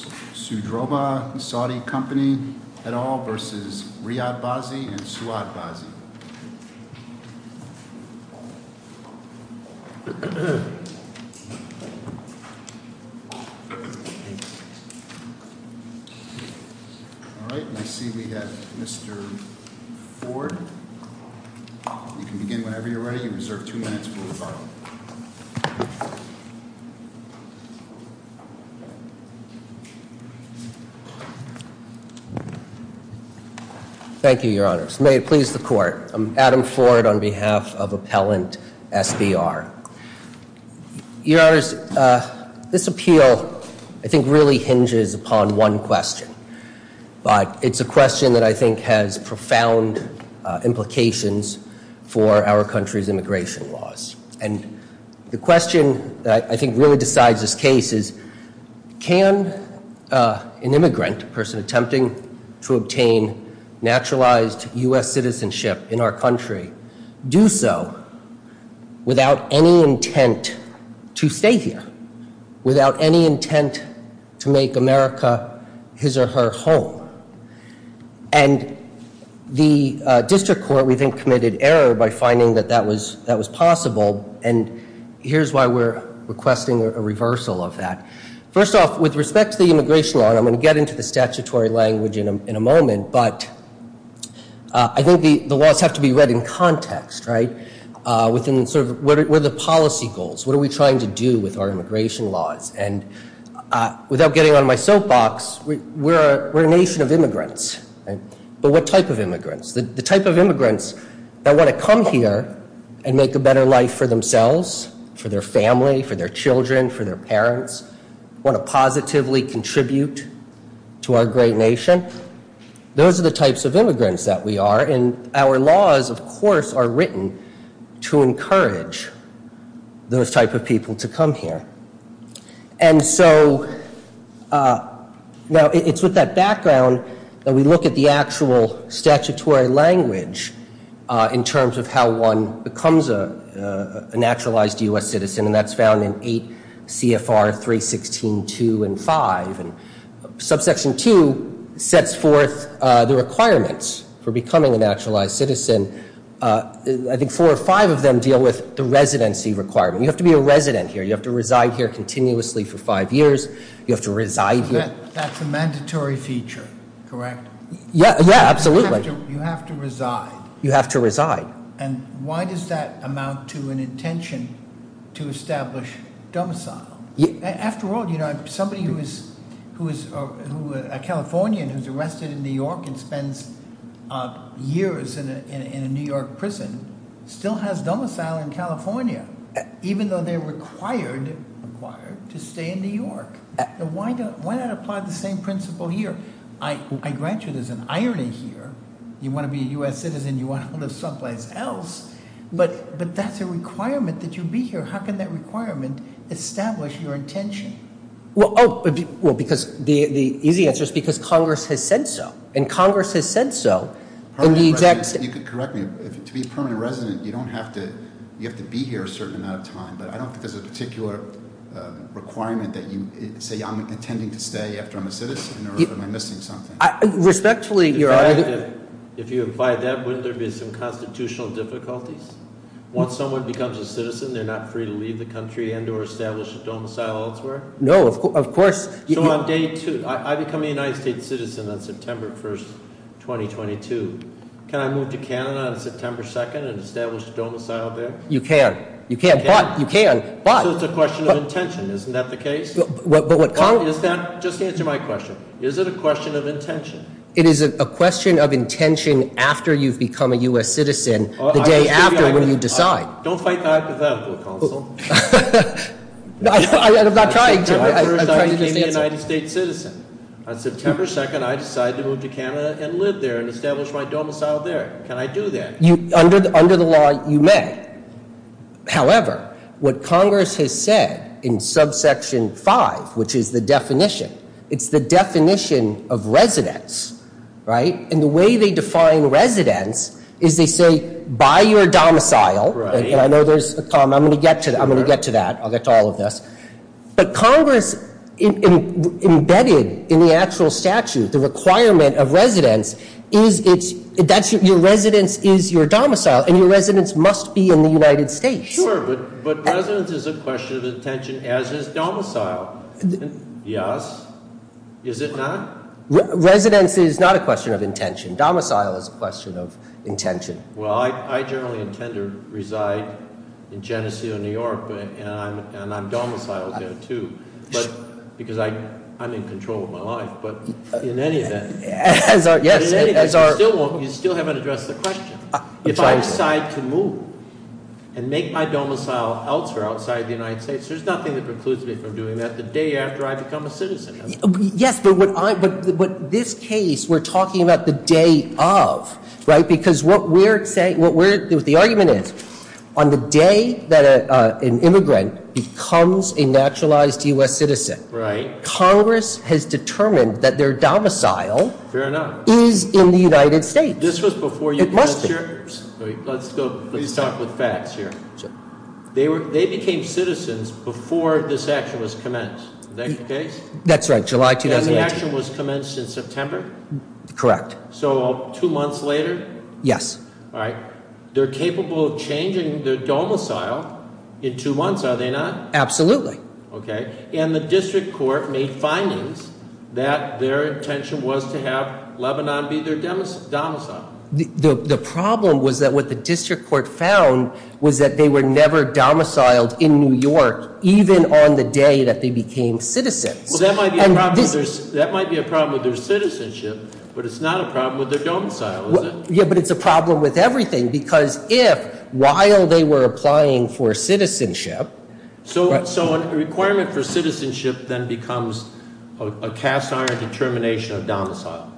v. Riyad Bazzi and Suad Bazzi. Thank you, Your Honors. May it please the Court. I'm Adam Ford on behalf of Appellant SBR. Your Honors, this appeal I think really hinges upon one question, but it's a question that I think has profound implications for our country's immigration laws. And the question that I think really decides this case is, can an immigrant, a person attempting to obtain naturalized U.S. citizenship in our country, do so without any intent to stay here, without any intent to make America his or her home? And the District Court, we think, committed error by finding that that was possible. And here's why we're requesting a reversal of that. First off, with respect to the immigration law, and I'm going to get into the statutory language in a moment, but I think the laws have to be read in context, right? Within the sort of, what are the policy goals? What are we trying to do with our immigration laws? And without getting on my soapbox, we're a nation of immigrants, right? But what type of immigrants? The type of immigrants that want to come here and make a better life for themselves, for their family, for their children, for their parents, want to positively contribute to our great nation, those are the types of immigrants that we are. And our laws, of course, are written to encourage those type of people to come here. And so, now it's with that background that we look at the actual statutory language in terms of how one becomes a naturalized U.S. citizen, and that's found in 8 CFR 316.2 and 5. And subsection 2 sets forth the requirements for becoming a naturalized citizen. I think four or five of them deal with the residency requirement. You have to be a resident here. You have to reside here continuously for Correct. Yeah, absolutely. You have to reside. You have to reside. And why does that amount to an intention to establish domicile? After all, you know, somebody who is a Californian who's arrested in New York and spends years in a New York prison still has domicile in California, even though they're required to stay in New York. Why not apply the same principle here? I grant you there's an irony here. You want to be a U.S. citizen, you want to live someplace else, but that's a requirement that you be here. How can that requirement establish your intention? Well, because the easy answer is because Congress has said so, and Congress has said so. You could correct me. To be a permanent resident, you have to be here a certain amount of time, but I don't think there's a particular requirement that you say, I'm intending to stay after I'm a If you apply that, wouldn't there be some constitutional difficulties? Once someone becomes a citizen, they're not free to leave the country and or establish a domicile elsewhere? No, of course. So on day two, I become a United States citizen on September 1st, 2022. Can I move to Canada on September 2nd and establish a domicile there? You can. You can, but you can. So it's a question of intention. Isn't that the case? Is that? Just answer my question. Is it a question of intention? It is a question of intention after you've become a U.S. citizen, the day after when you decide. Don't fight the hypothetical, Counsel. I'm not trying to. On September 1st, I became a United States citizen. On September 2nd, I decide to move to Canada and live there and establish my domicile there. Can I do that? Under the law, you may. However, what Congress has said in subsection 5, which is the definition, it's the definition of residence, right? And the way they define residence is they say, buy your domicile. I know there's a comma. I'm going to get to that. I'm going to get to that. I'll get to all of this. But Congress embedded in the actual statute, the requirement of residence is that your residence is your domicile and your residence must be in the United States. Sure, but residence is a question of intention as is domicile. Yes. Is it not? Residence is not a question of intention. Domicile is a question of intention. Well, I generally intend to reside in Geneseo, New York, and I'm domiciled there too, because I'm in control of my life. But in any event, you still haven't addressed the question. If I decide to move and make my domicile elsewhere outside the United States, there's nothing that precludes me from doing that the day after I become a citizen. Yes, but this case, we're talking about the day of, right? Because what we're saying, the argument is, on the day that an immigrant becomes a naturalized U.S. citizen, Congress has determined that their domicile is in the United States. This was before you- It must be. Let's go, let's talk with facts here. They became citizens before this action was commenced. Is that your case? That's right, July 2008. And the action was commenced in September? Correct. So two months later? Yes. All right. They're capable of changing their domicile in two months, are they not? Absolutely. Okay. And the district court made findings that their intention was to have Lebanon be their domicile. The problem was that what the district court found was that they were never domiciled in New York, even on the day that they became citizens. Well, that might be a problem with their citizenship, but it's not a problem with their domicile, is it? Yeah, but it's a problem with everything, because if, while they were applying for citizenship- So a requirement for citizenship then becomes a cast-iron determination of domicile.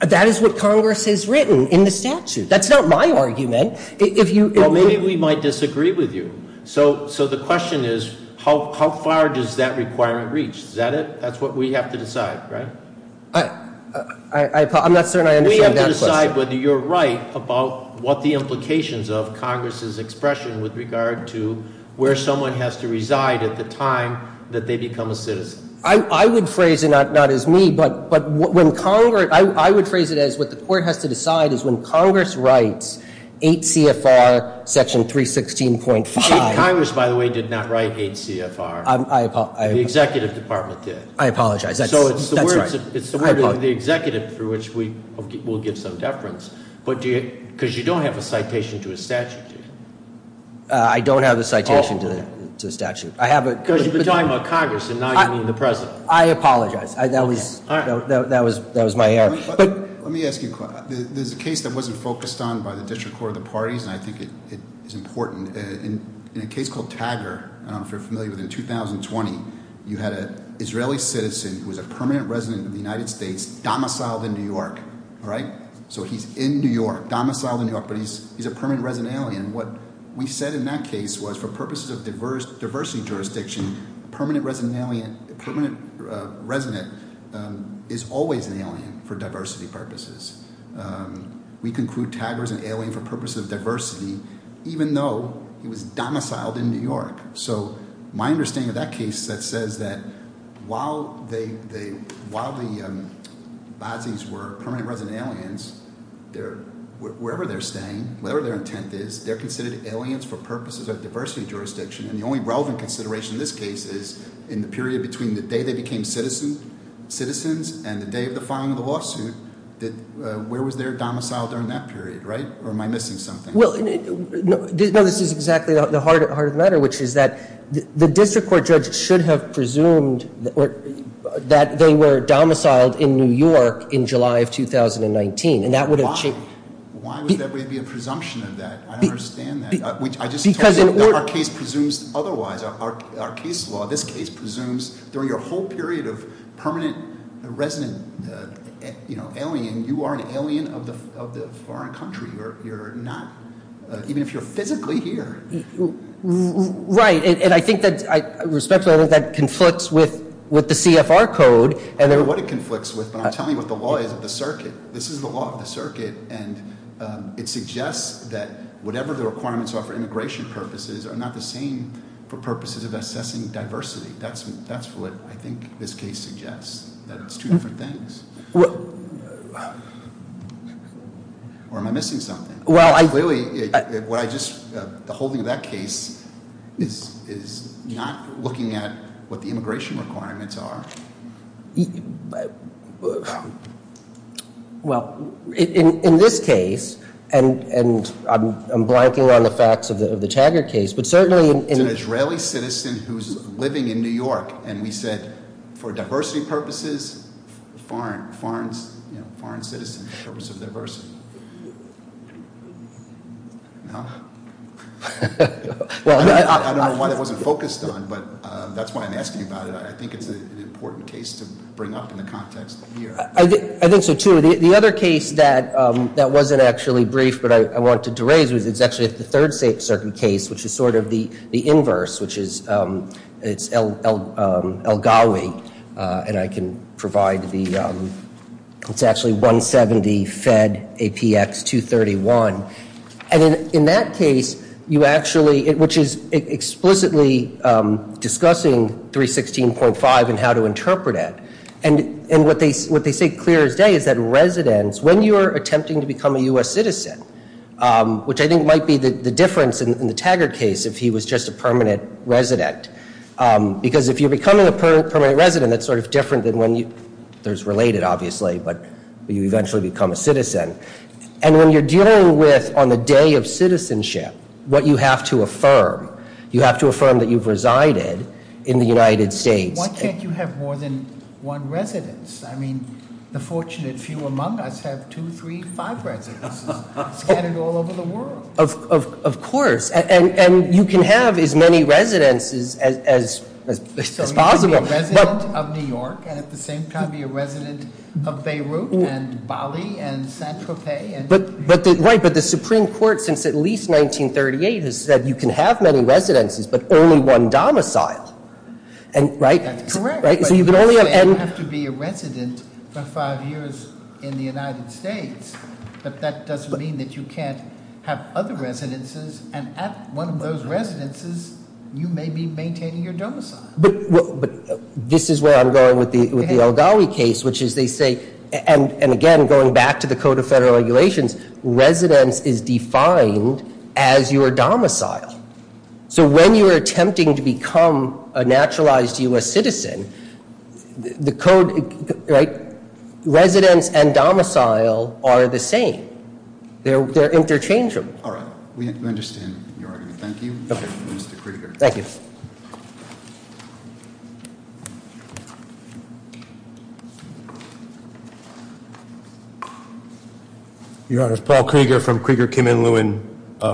That is what Congress has written in the statute. That's not my argument. Well, maybe we might disagree with you. So the question is, how far does that requirement reach? Is that it? That's what we have to decide, right? I'm not certain I understand that question. How do you decide whether you're right about what the implications of Congress's expression with regard to where someone has to reside at the time that they become a citizen? I would phrase it not as me, but what the court has to decide is when Congress writes 8 CFR section 316.5- Congress, by the way, did not write 8 CFR. The executive department did. I apologize. That's right. It's the word of the executive, for which we will give some deference. Because you don't have a citation to a statute, do you? I don't have a citation to the statute. I have a- Because you've been talking about Congress, and now you mean the president. I apologize. That was my error. Let me ask you a question. There's a case that wasn't focused on by the District Court of the Parties, and I think it is important. In a case called Taggart, if you're familiar with it, in 2020, you had an Israeli citizen who was a permanent resident of the United States, domiciled in New York, all right? So he's in New York, domiciled in New York, but he's a permanent resident alien. What we said in that case was for purposes of diversity jurisdiction, a permanent resident is always an alien for diversity purposes. We conclude Taggart is an alien for purposes of diversity, even though he was domiciled in New York. So my understanding of that case that says that while the Bazzi's were permanent resident aliens, wherever they're staying, whatever their intent is, they're considered aliens for purposes of diversity jurisdiction, and the only relevant consideration in this case is in the period between the day they became citizens and the day of the filing of the lawsuit, where was their domicile during that period, right? Or am I missing something? Well, no, this is exactly the heart of the matter, which is that the district court judge should have presumed that they were domiciled in New York in July of 2019, and that would have- Why? Why would there be a presumption of that? I understand that. I just told you that our case presumes otherwise. Our case law, this case presumes during your whole period of permanent resident alien, you are an alien of the foreign country. Even if you're physically here. Right, and I think that respectfully, I think that conflicts with the CFR code. I don't know what it conflicts with, but I'm telling you what the law is of the circuit. This is the law of the circuit, and it suggests that whatever the requirements are for immigration purposes are not the same for purposes of assessing diversity. That's what I think this case suggests, that it's two different things. Or am I missing something? Well, I- Clearly, what I just, the holding of that case is not looking at what the immigration requirements are. Well, in this case, and I'm blanking on the facts of the Taggart case, but certainly- It's an Israeli citizen who's living in New York, and we said for diversity purposes, foreign citizens for the purpose of diversity. I don't know why that wasn't focused on, but that's why I'm asking about it. I think it's an important case to bring up in the context of here. I think so, too. The other case that wasn't actually brief, but I wanted to raise was actually the third circuit case, which is sort of the inverse, which is El Gawi, and I can provide the- It's actually 170 Fed APX 231. In that case, you actually, which is explicitly discussing 316.5 and how to interpret it, and what they say clear as day is that residents, when you're attempting to become a U.S. citizen, which I think might be the difference in the Taggart case if he was just a permanent resident. Because if you're becoming a permanent resident, that's sort of different than when you- There's related, obviously, but you eventually become a citizen. And when you're dealing with, on the day of citizenship, what you have to affirm, you have to affirm that you've resided in the United States. Why can't you have more than one residence? I mean, the fortunate few among us have two, three, five residences. And it's all over the world. Of course, and you can have as many residences as possible. So you can be a resident of New York, and at the same time be a resident of Beirut, and Bali, and Saint-Tropez, and- But the Supreme Court, since at least 1938, has said you can have many residences, but only one domicile, right? That's correct, but you also have to be a resident for five years in the United States, but that doesn't mean that you can't have other residences. And at one of those residences, you may be maintaining your domicile. But this is where I'm going with the El Gawi case, which is they say, and again, going back to the Code of Federal Regulations, residence is defined as your domicile. So when you're attempting to become a naturalized U.S. citizen, the code, right? And domicile are the same. They're interchangeable. All right. We understand, Your Honor. Thank you. Okay. Mr. Krieger. Thank you. Your Honor, it's Paul Krieger from Krieger-Kimen-Lewin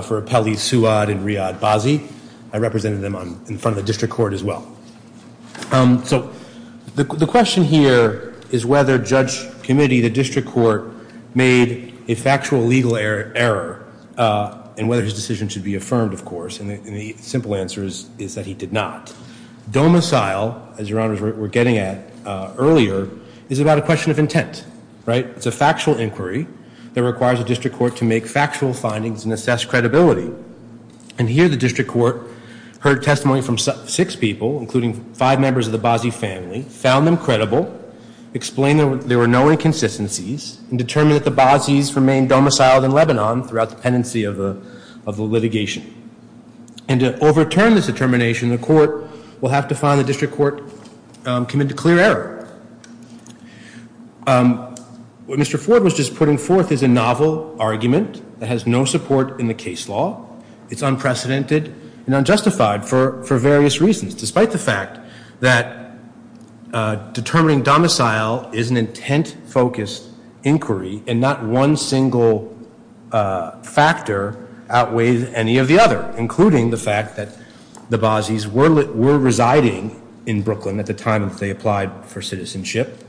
for Appellees Suad and Riyad Bazzi. I represented them in front of the District Court as well. So the question here is whether Judge Committee, the District Court, made a factual legal error and whether his decision should be affirmed, of course. And the simple answer is that he did not. Domicile, as Your Honors were getting at earlier, is about a question of intent, right? It's a factual inquiry that requires a District Court to make factual findings and assess credibility. And here, the District Court heard testimony from six people, including five members of the Bazzi family, found them credible, explained there were no inconsistencies, and determined that the Bazzi's remained domiciled in Lebanon throughout the pendency of the litigation. And to overturn this determination, the court will have to find the District Court committed a clear error. What Mr. Ford was just putting forth is a novel argument that has no support in the case law. It's unprecedented and unjustified for various reasons. Despite the fact that determining domicile is an intent-focused inquiry, and not one single factor outweighs any of the other, including the fact that the Bazzi's were residing in Brooklyn at the time that they applied for citizenship,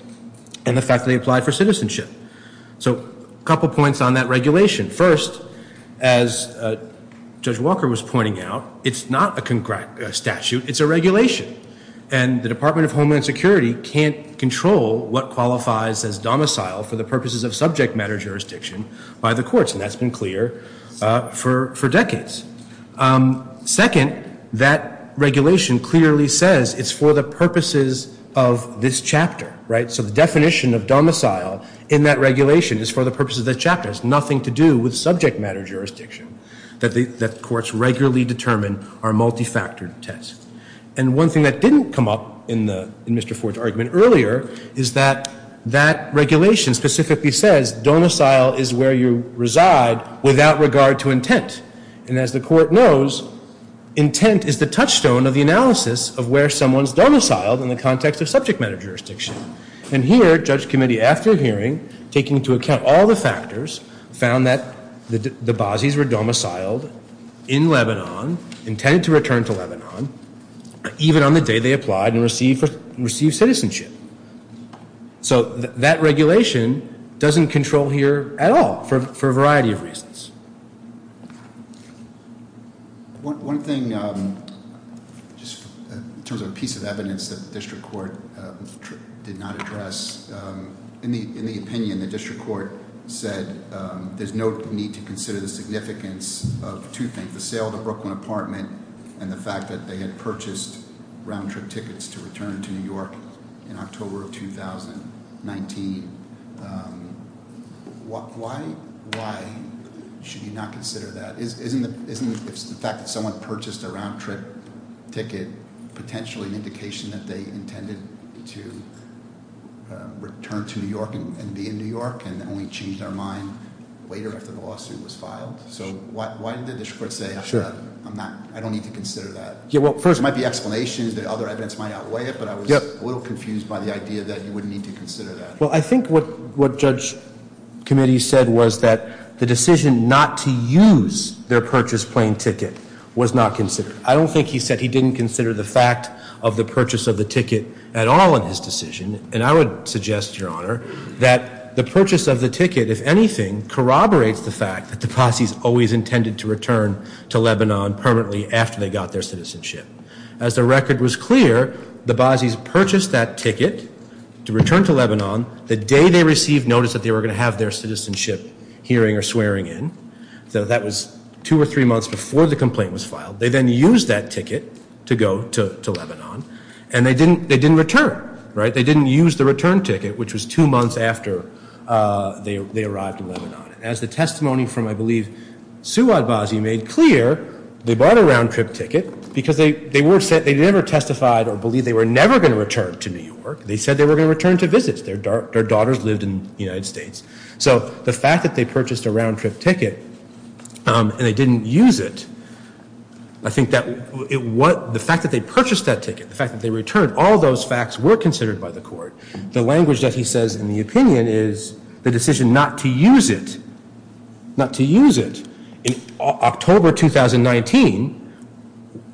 and the fact that they applied for citizenship. So a couple points on that regulation. First, as Judge Walker was pointing out, it's not a statute. It's a regulation. And the Department of Homeland Security can't control what qualifies as domicile for the purposes of subject matter jurisdiction by the courts. And that's been clear for decades. Second, that regulation clearly says it's for the purposes of this chapter, right? So the definition of domicile in that regulation is for the purposes of the chapter. It has nothing to do with subject matter jurisdiction. That the courts regularly determine are multifactored tests. And one thing that didn't come up in Mr. Ford's argument earlier is that that regulation specifically says domicile is where you reside without regard to intent. And as the court knows, intent is the touchstone of the analysis of where someone's domiciled in the context of subject matter jurisdiction. And here, Judge Committee, after hearing, taking into account all the factors, found that the Bazis were domiciled in Lebanon, intended to return to Lebanon, even on the day they applied and received citizenship. So that regulation doesn't control here at all for a variety of reasons. One thing, just in terms of a piece of evidence that the district court did not address. In the opinion, the district court said there's no need to consider the significance of two things. The sale of the Brooklyn apartment and the fact that they had purchased round-trip tickets to return to New York in October of 2019. Why should you not consider that? Isn't the fact that someone purchased a round-trip ticket potentially an indication that they intended to return to New York and be in New York and only changed their mind later after the lawsuit was filed? So why did the district court say, I don't need to consider that? There might be explanations, the other evidence might outweigh it, but I was a little confused by the idea that you wouldn't need to consider that. Well, I think what Judge Committee said was that the decision not to use their purchased plane ticket was not considered. I don't think he said he didn't consider the fact of the purchase of the ticket at all in his decision. And I would suggest, Your Honor, that the purchase of the ticket, if anything, corroborates the fact that the Basis always intended to return to Lebanon permanently after they got their citizenship. As the record was clear, the Basis purchased that ticket to return to Lebanon the day they received notice that they were going to have their citizenship hearing or swearing in. So that was two or three months before the complaint was filed. They then used that ticket to go to Lebanon and they didn't return, right? They didn't use the return ticket, which was two months after they arrived in Lebanon. As the testimony from, I believe, Suad Basi made clear, they bought a round trip ticket because they never testified or believed they were never going to return to New York. They said they were going to return to visit. Their daughters lived in the United States. So the fact that they purchased a round trip ticket and they didn't use it, I think that the fact that they purchased that ticket, the fact that they returned, all those facts were considered by the court. The language that he says in the opinion is the decision not to use it, not to use it, in October 2019,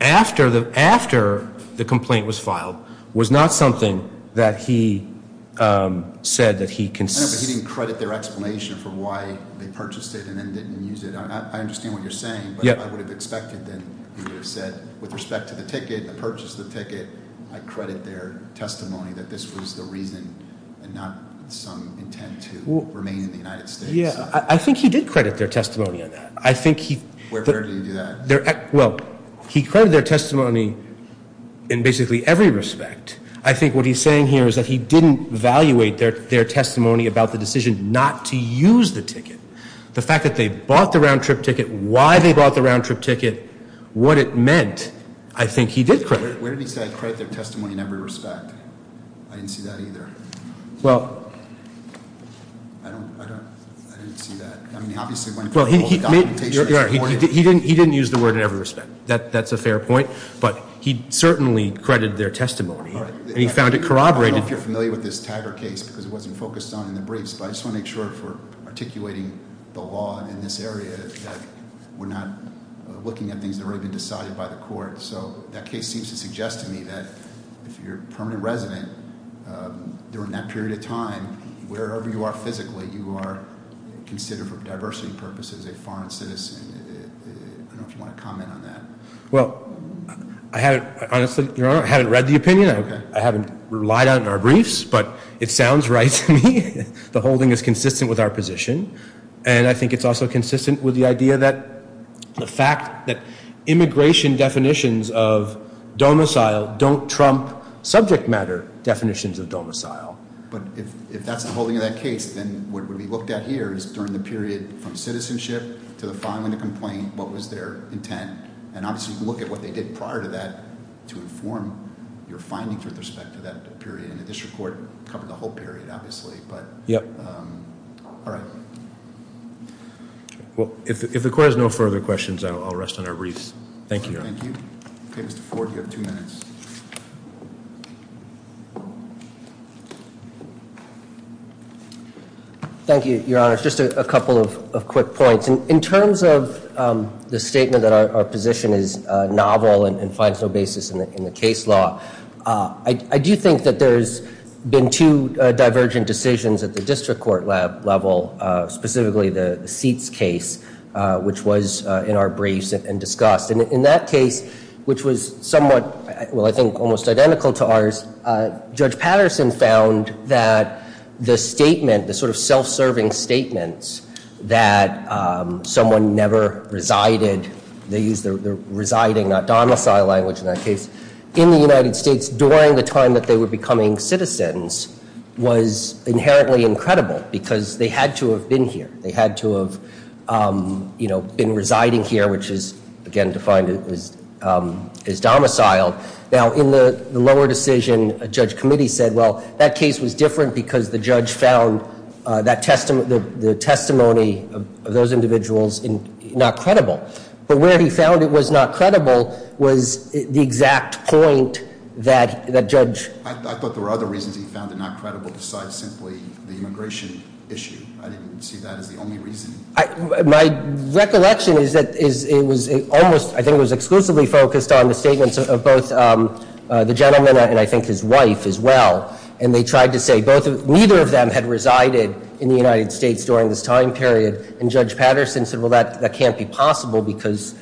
after the complaint was filed, was not something that he said that he consented. He didn't credit their explanation for why they purchased it and then didn't use it. I understand what you're saying, but I would have expected that he would have said, with respect to the ticket, the purchase of the ticket, I credit their testimony that this was the reason and not some intent to remain in the United States. Yeah, I think he did credit their testimony on that. I think he- Where did he do that? Well, he credited their testimony in basically every respect. I think what he's saying here is that he didn't evaluate their testimony about the decision not to use the ticket. The fact that they bought the round trip ticket, why they bought the round trip ticket, what it meant, I think he did credit. Where did he say I credit their testimony in every respect? I didn't see that either. Well. I don't, I didn't see that. I mean, obviously, when it comes to documentation, it's important. He didn't use the word in every respect. That's a fair point, but he certainly credited their testimony, and he found it corroborated. I don't know if you're familiar with this Taggart case, because it wasn't focused on in the briefs, but I just want to make sure if we're articulating the law in this area that we're not looking at things that have already been decided by the court, so that case seems to suggest to me that if you're a permanent resident, during that period of time, wherever you are physically, you are considered for diversity purposes a foreign citizen. I don't know if you want to comment on that. Well, I haven't, honestly, your honor, I haven't read the opinion. I haven't relied on it in our briefs, but it sounds right to me. The holding is consistent with our position, and I think it's also consistent with the idea that the fact that immigration definitions of domicile don't trump subject matter definitions of domicile. But if that's the holding of that case, then what we looked at here is during the period from citizenship to the filing of the complaint, what was their intent? And obviously, you can look at what they did prior to that to inform your findings with respect to that period. And the district court covered the whole period, obviously, but. Yep. All right. Well, if the court has no further questions, I'll rest on our briefs. Thank you, your honor. Thank you. Okay, Mr. Ford, you have two minutes. Thank you, your honor. Just a couple of quick points. In terms of the statement that our position is novel and finds no basis in the case law. I do think that there's been two divergent decisions at the district court level, specifically the seats case, which was in our briefs and discussed. And in that case, which was somewhat, well, I think almost identical to ours, Judge Patterson found that the statement, the sort of self-serving statements, that someone never resided, they used the residing, not domicile language in that case. In the United States, during the time that they were becoming citizens, was inherently incredible, because they had to have been here. They had to have been residing here, which is, again, defined as domiciled. Now, in the lower decision, a judge committee said, well, that case was different because the judge found the testimony of those individuals not credible. But where he found it was not credible was the exact point that judge- My recollection is that it was almost, I think it was exclusively focused on the statements of both the gentleman and I think his wife as well. And they tried to say neither of them had resided in the United States during this time period. And Judge Patterson said, well, that can't be possible because,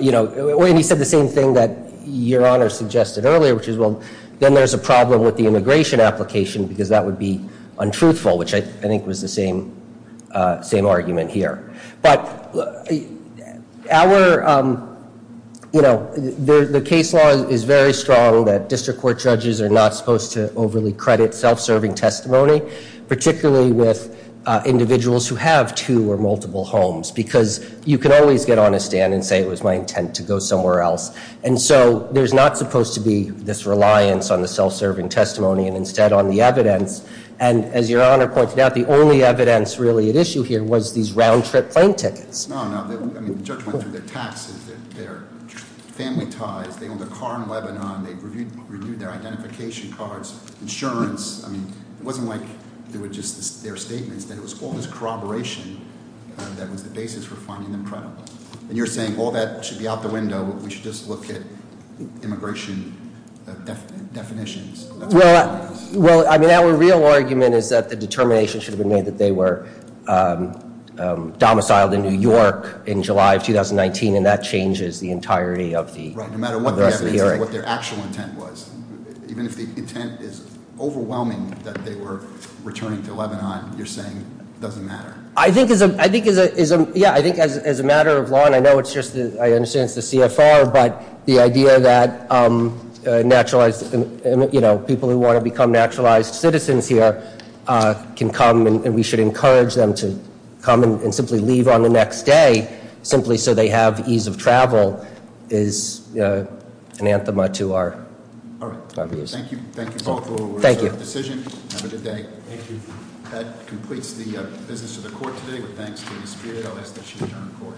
you know, and he said the same thing that Your Honor suggested earlier, which is, well, then there's a problem with the immigration application because that would be untruthful, which I think was the same argument here. But our, you know, the case law is very strong that district court judges are not supposed to overly credit self-serving testimony, particularly with individuals who have two or multiple homes, because you can always get on a stand and say it was my intent to go somewhere else. And so there's not supposed to be this reliance on the self-serving testimony and instead on the evidence. And as Your Honor pointed out, the only evidence really at issue here was these round-trip plane tickets. No, no, I mean, the judge went through their taxes, their family ties, they owned a car in Lebanon, they reviewed their identification cards, insurance. I mean, it wasn't like they were just, their statements, that it was all this corroboration that was the basis for finding them credible. And you're saying all that should be out the window, we should just look at immigration definitions. Well, I mean, our real argument is that the determination should have been made that they were domiciled in New York in July of 2019, and that changes the entirety of the rest of the hearing. Right, no matter what the evidence is, what their actual intent was. Even if the intent is overwhelming that they were returning to Lebanon, you're saying it doesn't matter. I think as a matter of law, and I know it's just, I understand it's the CFR, but the idea that naturalized, people who want to become naturalized citizens here can come. And we should encourage them to come and simply leave on the next day, simply so they have ease of travel is an anthem to our views. All right, thank you both for your decision, have a good day. Thank you. That completes the business of the court today, but thanks to Ms. Speer, I'll ask that she return to court. Court is adjourned.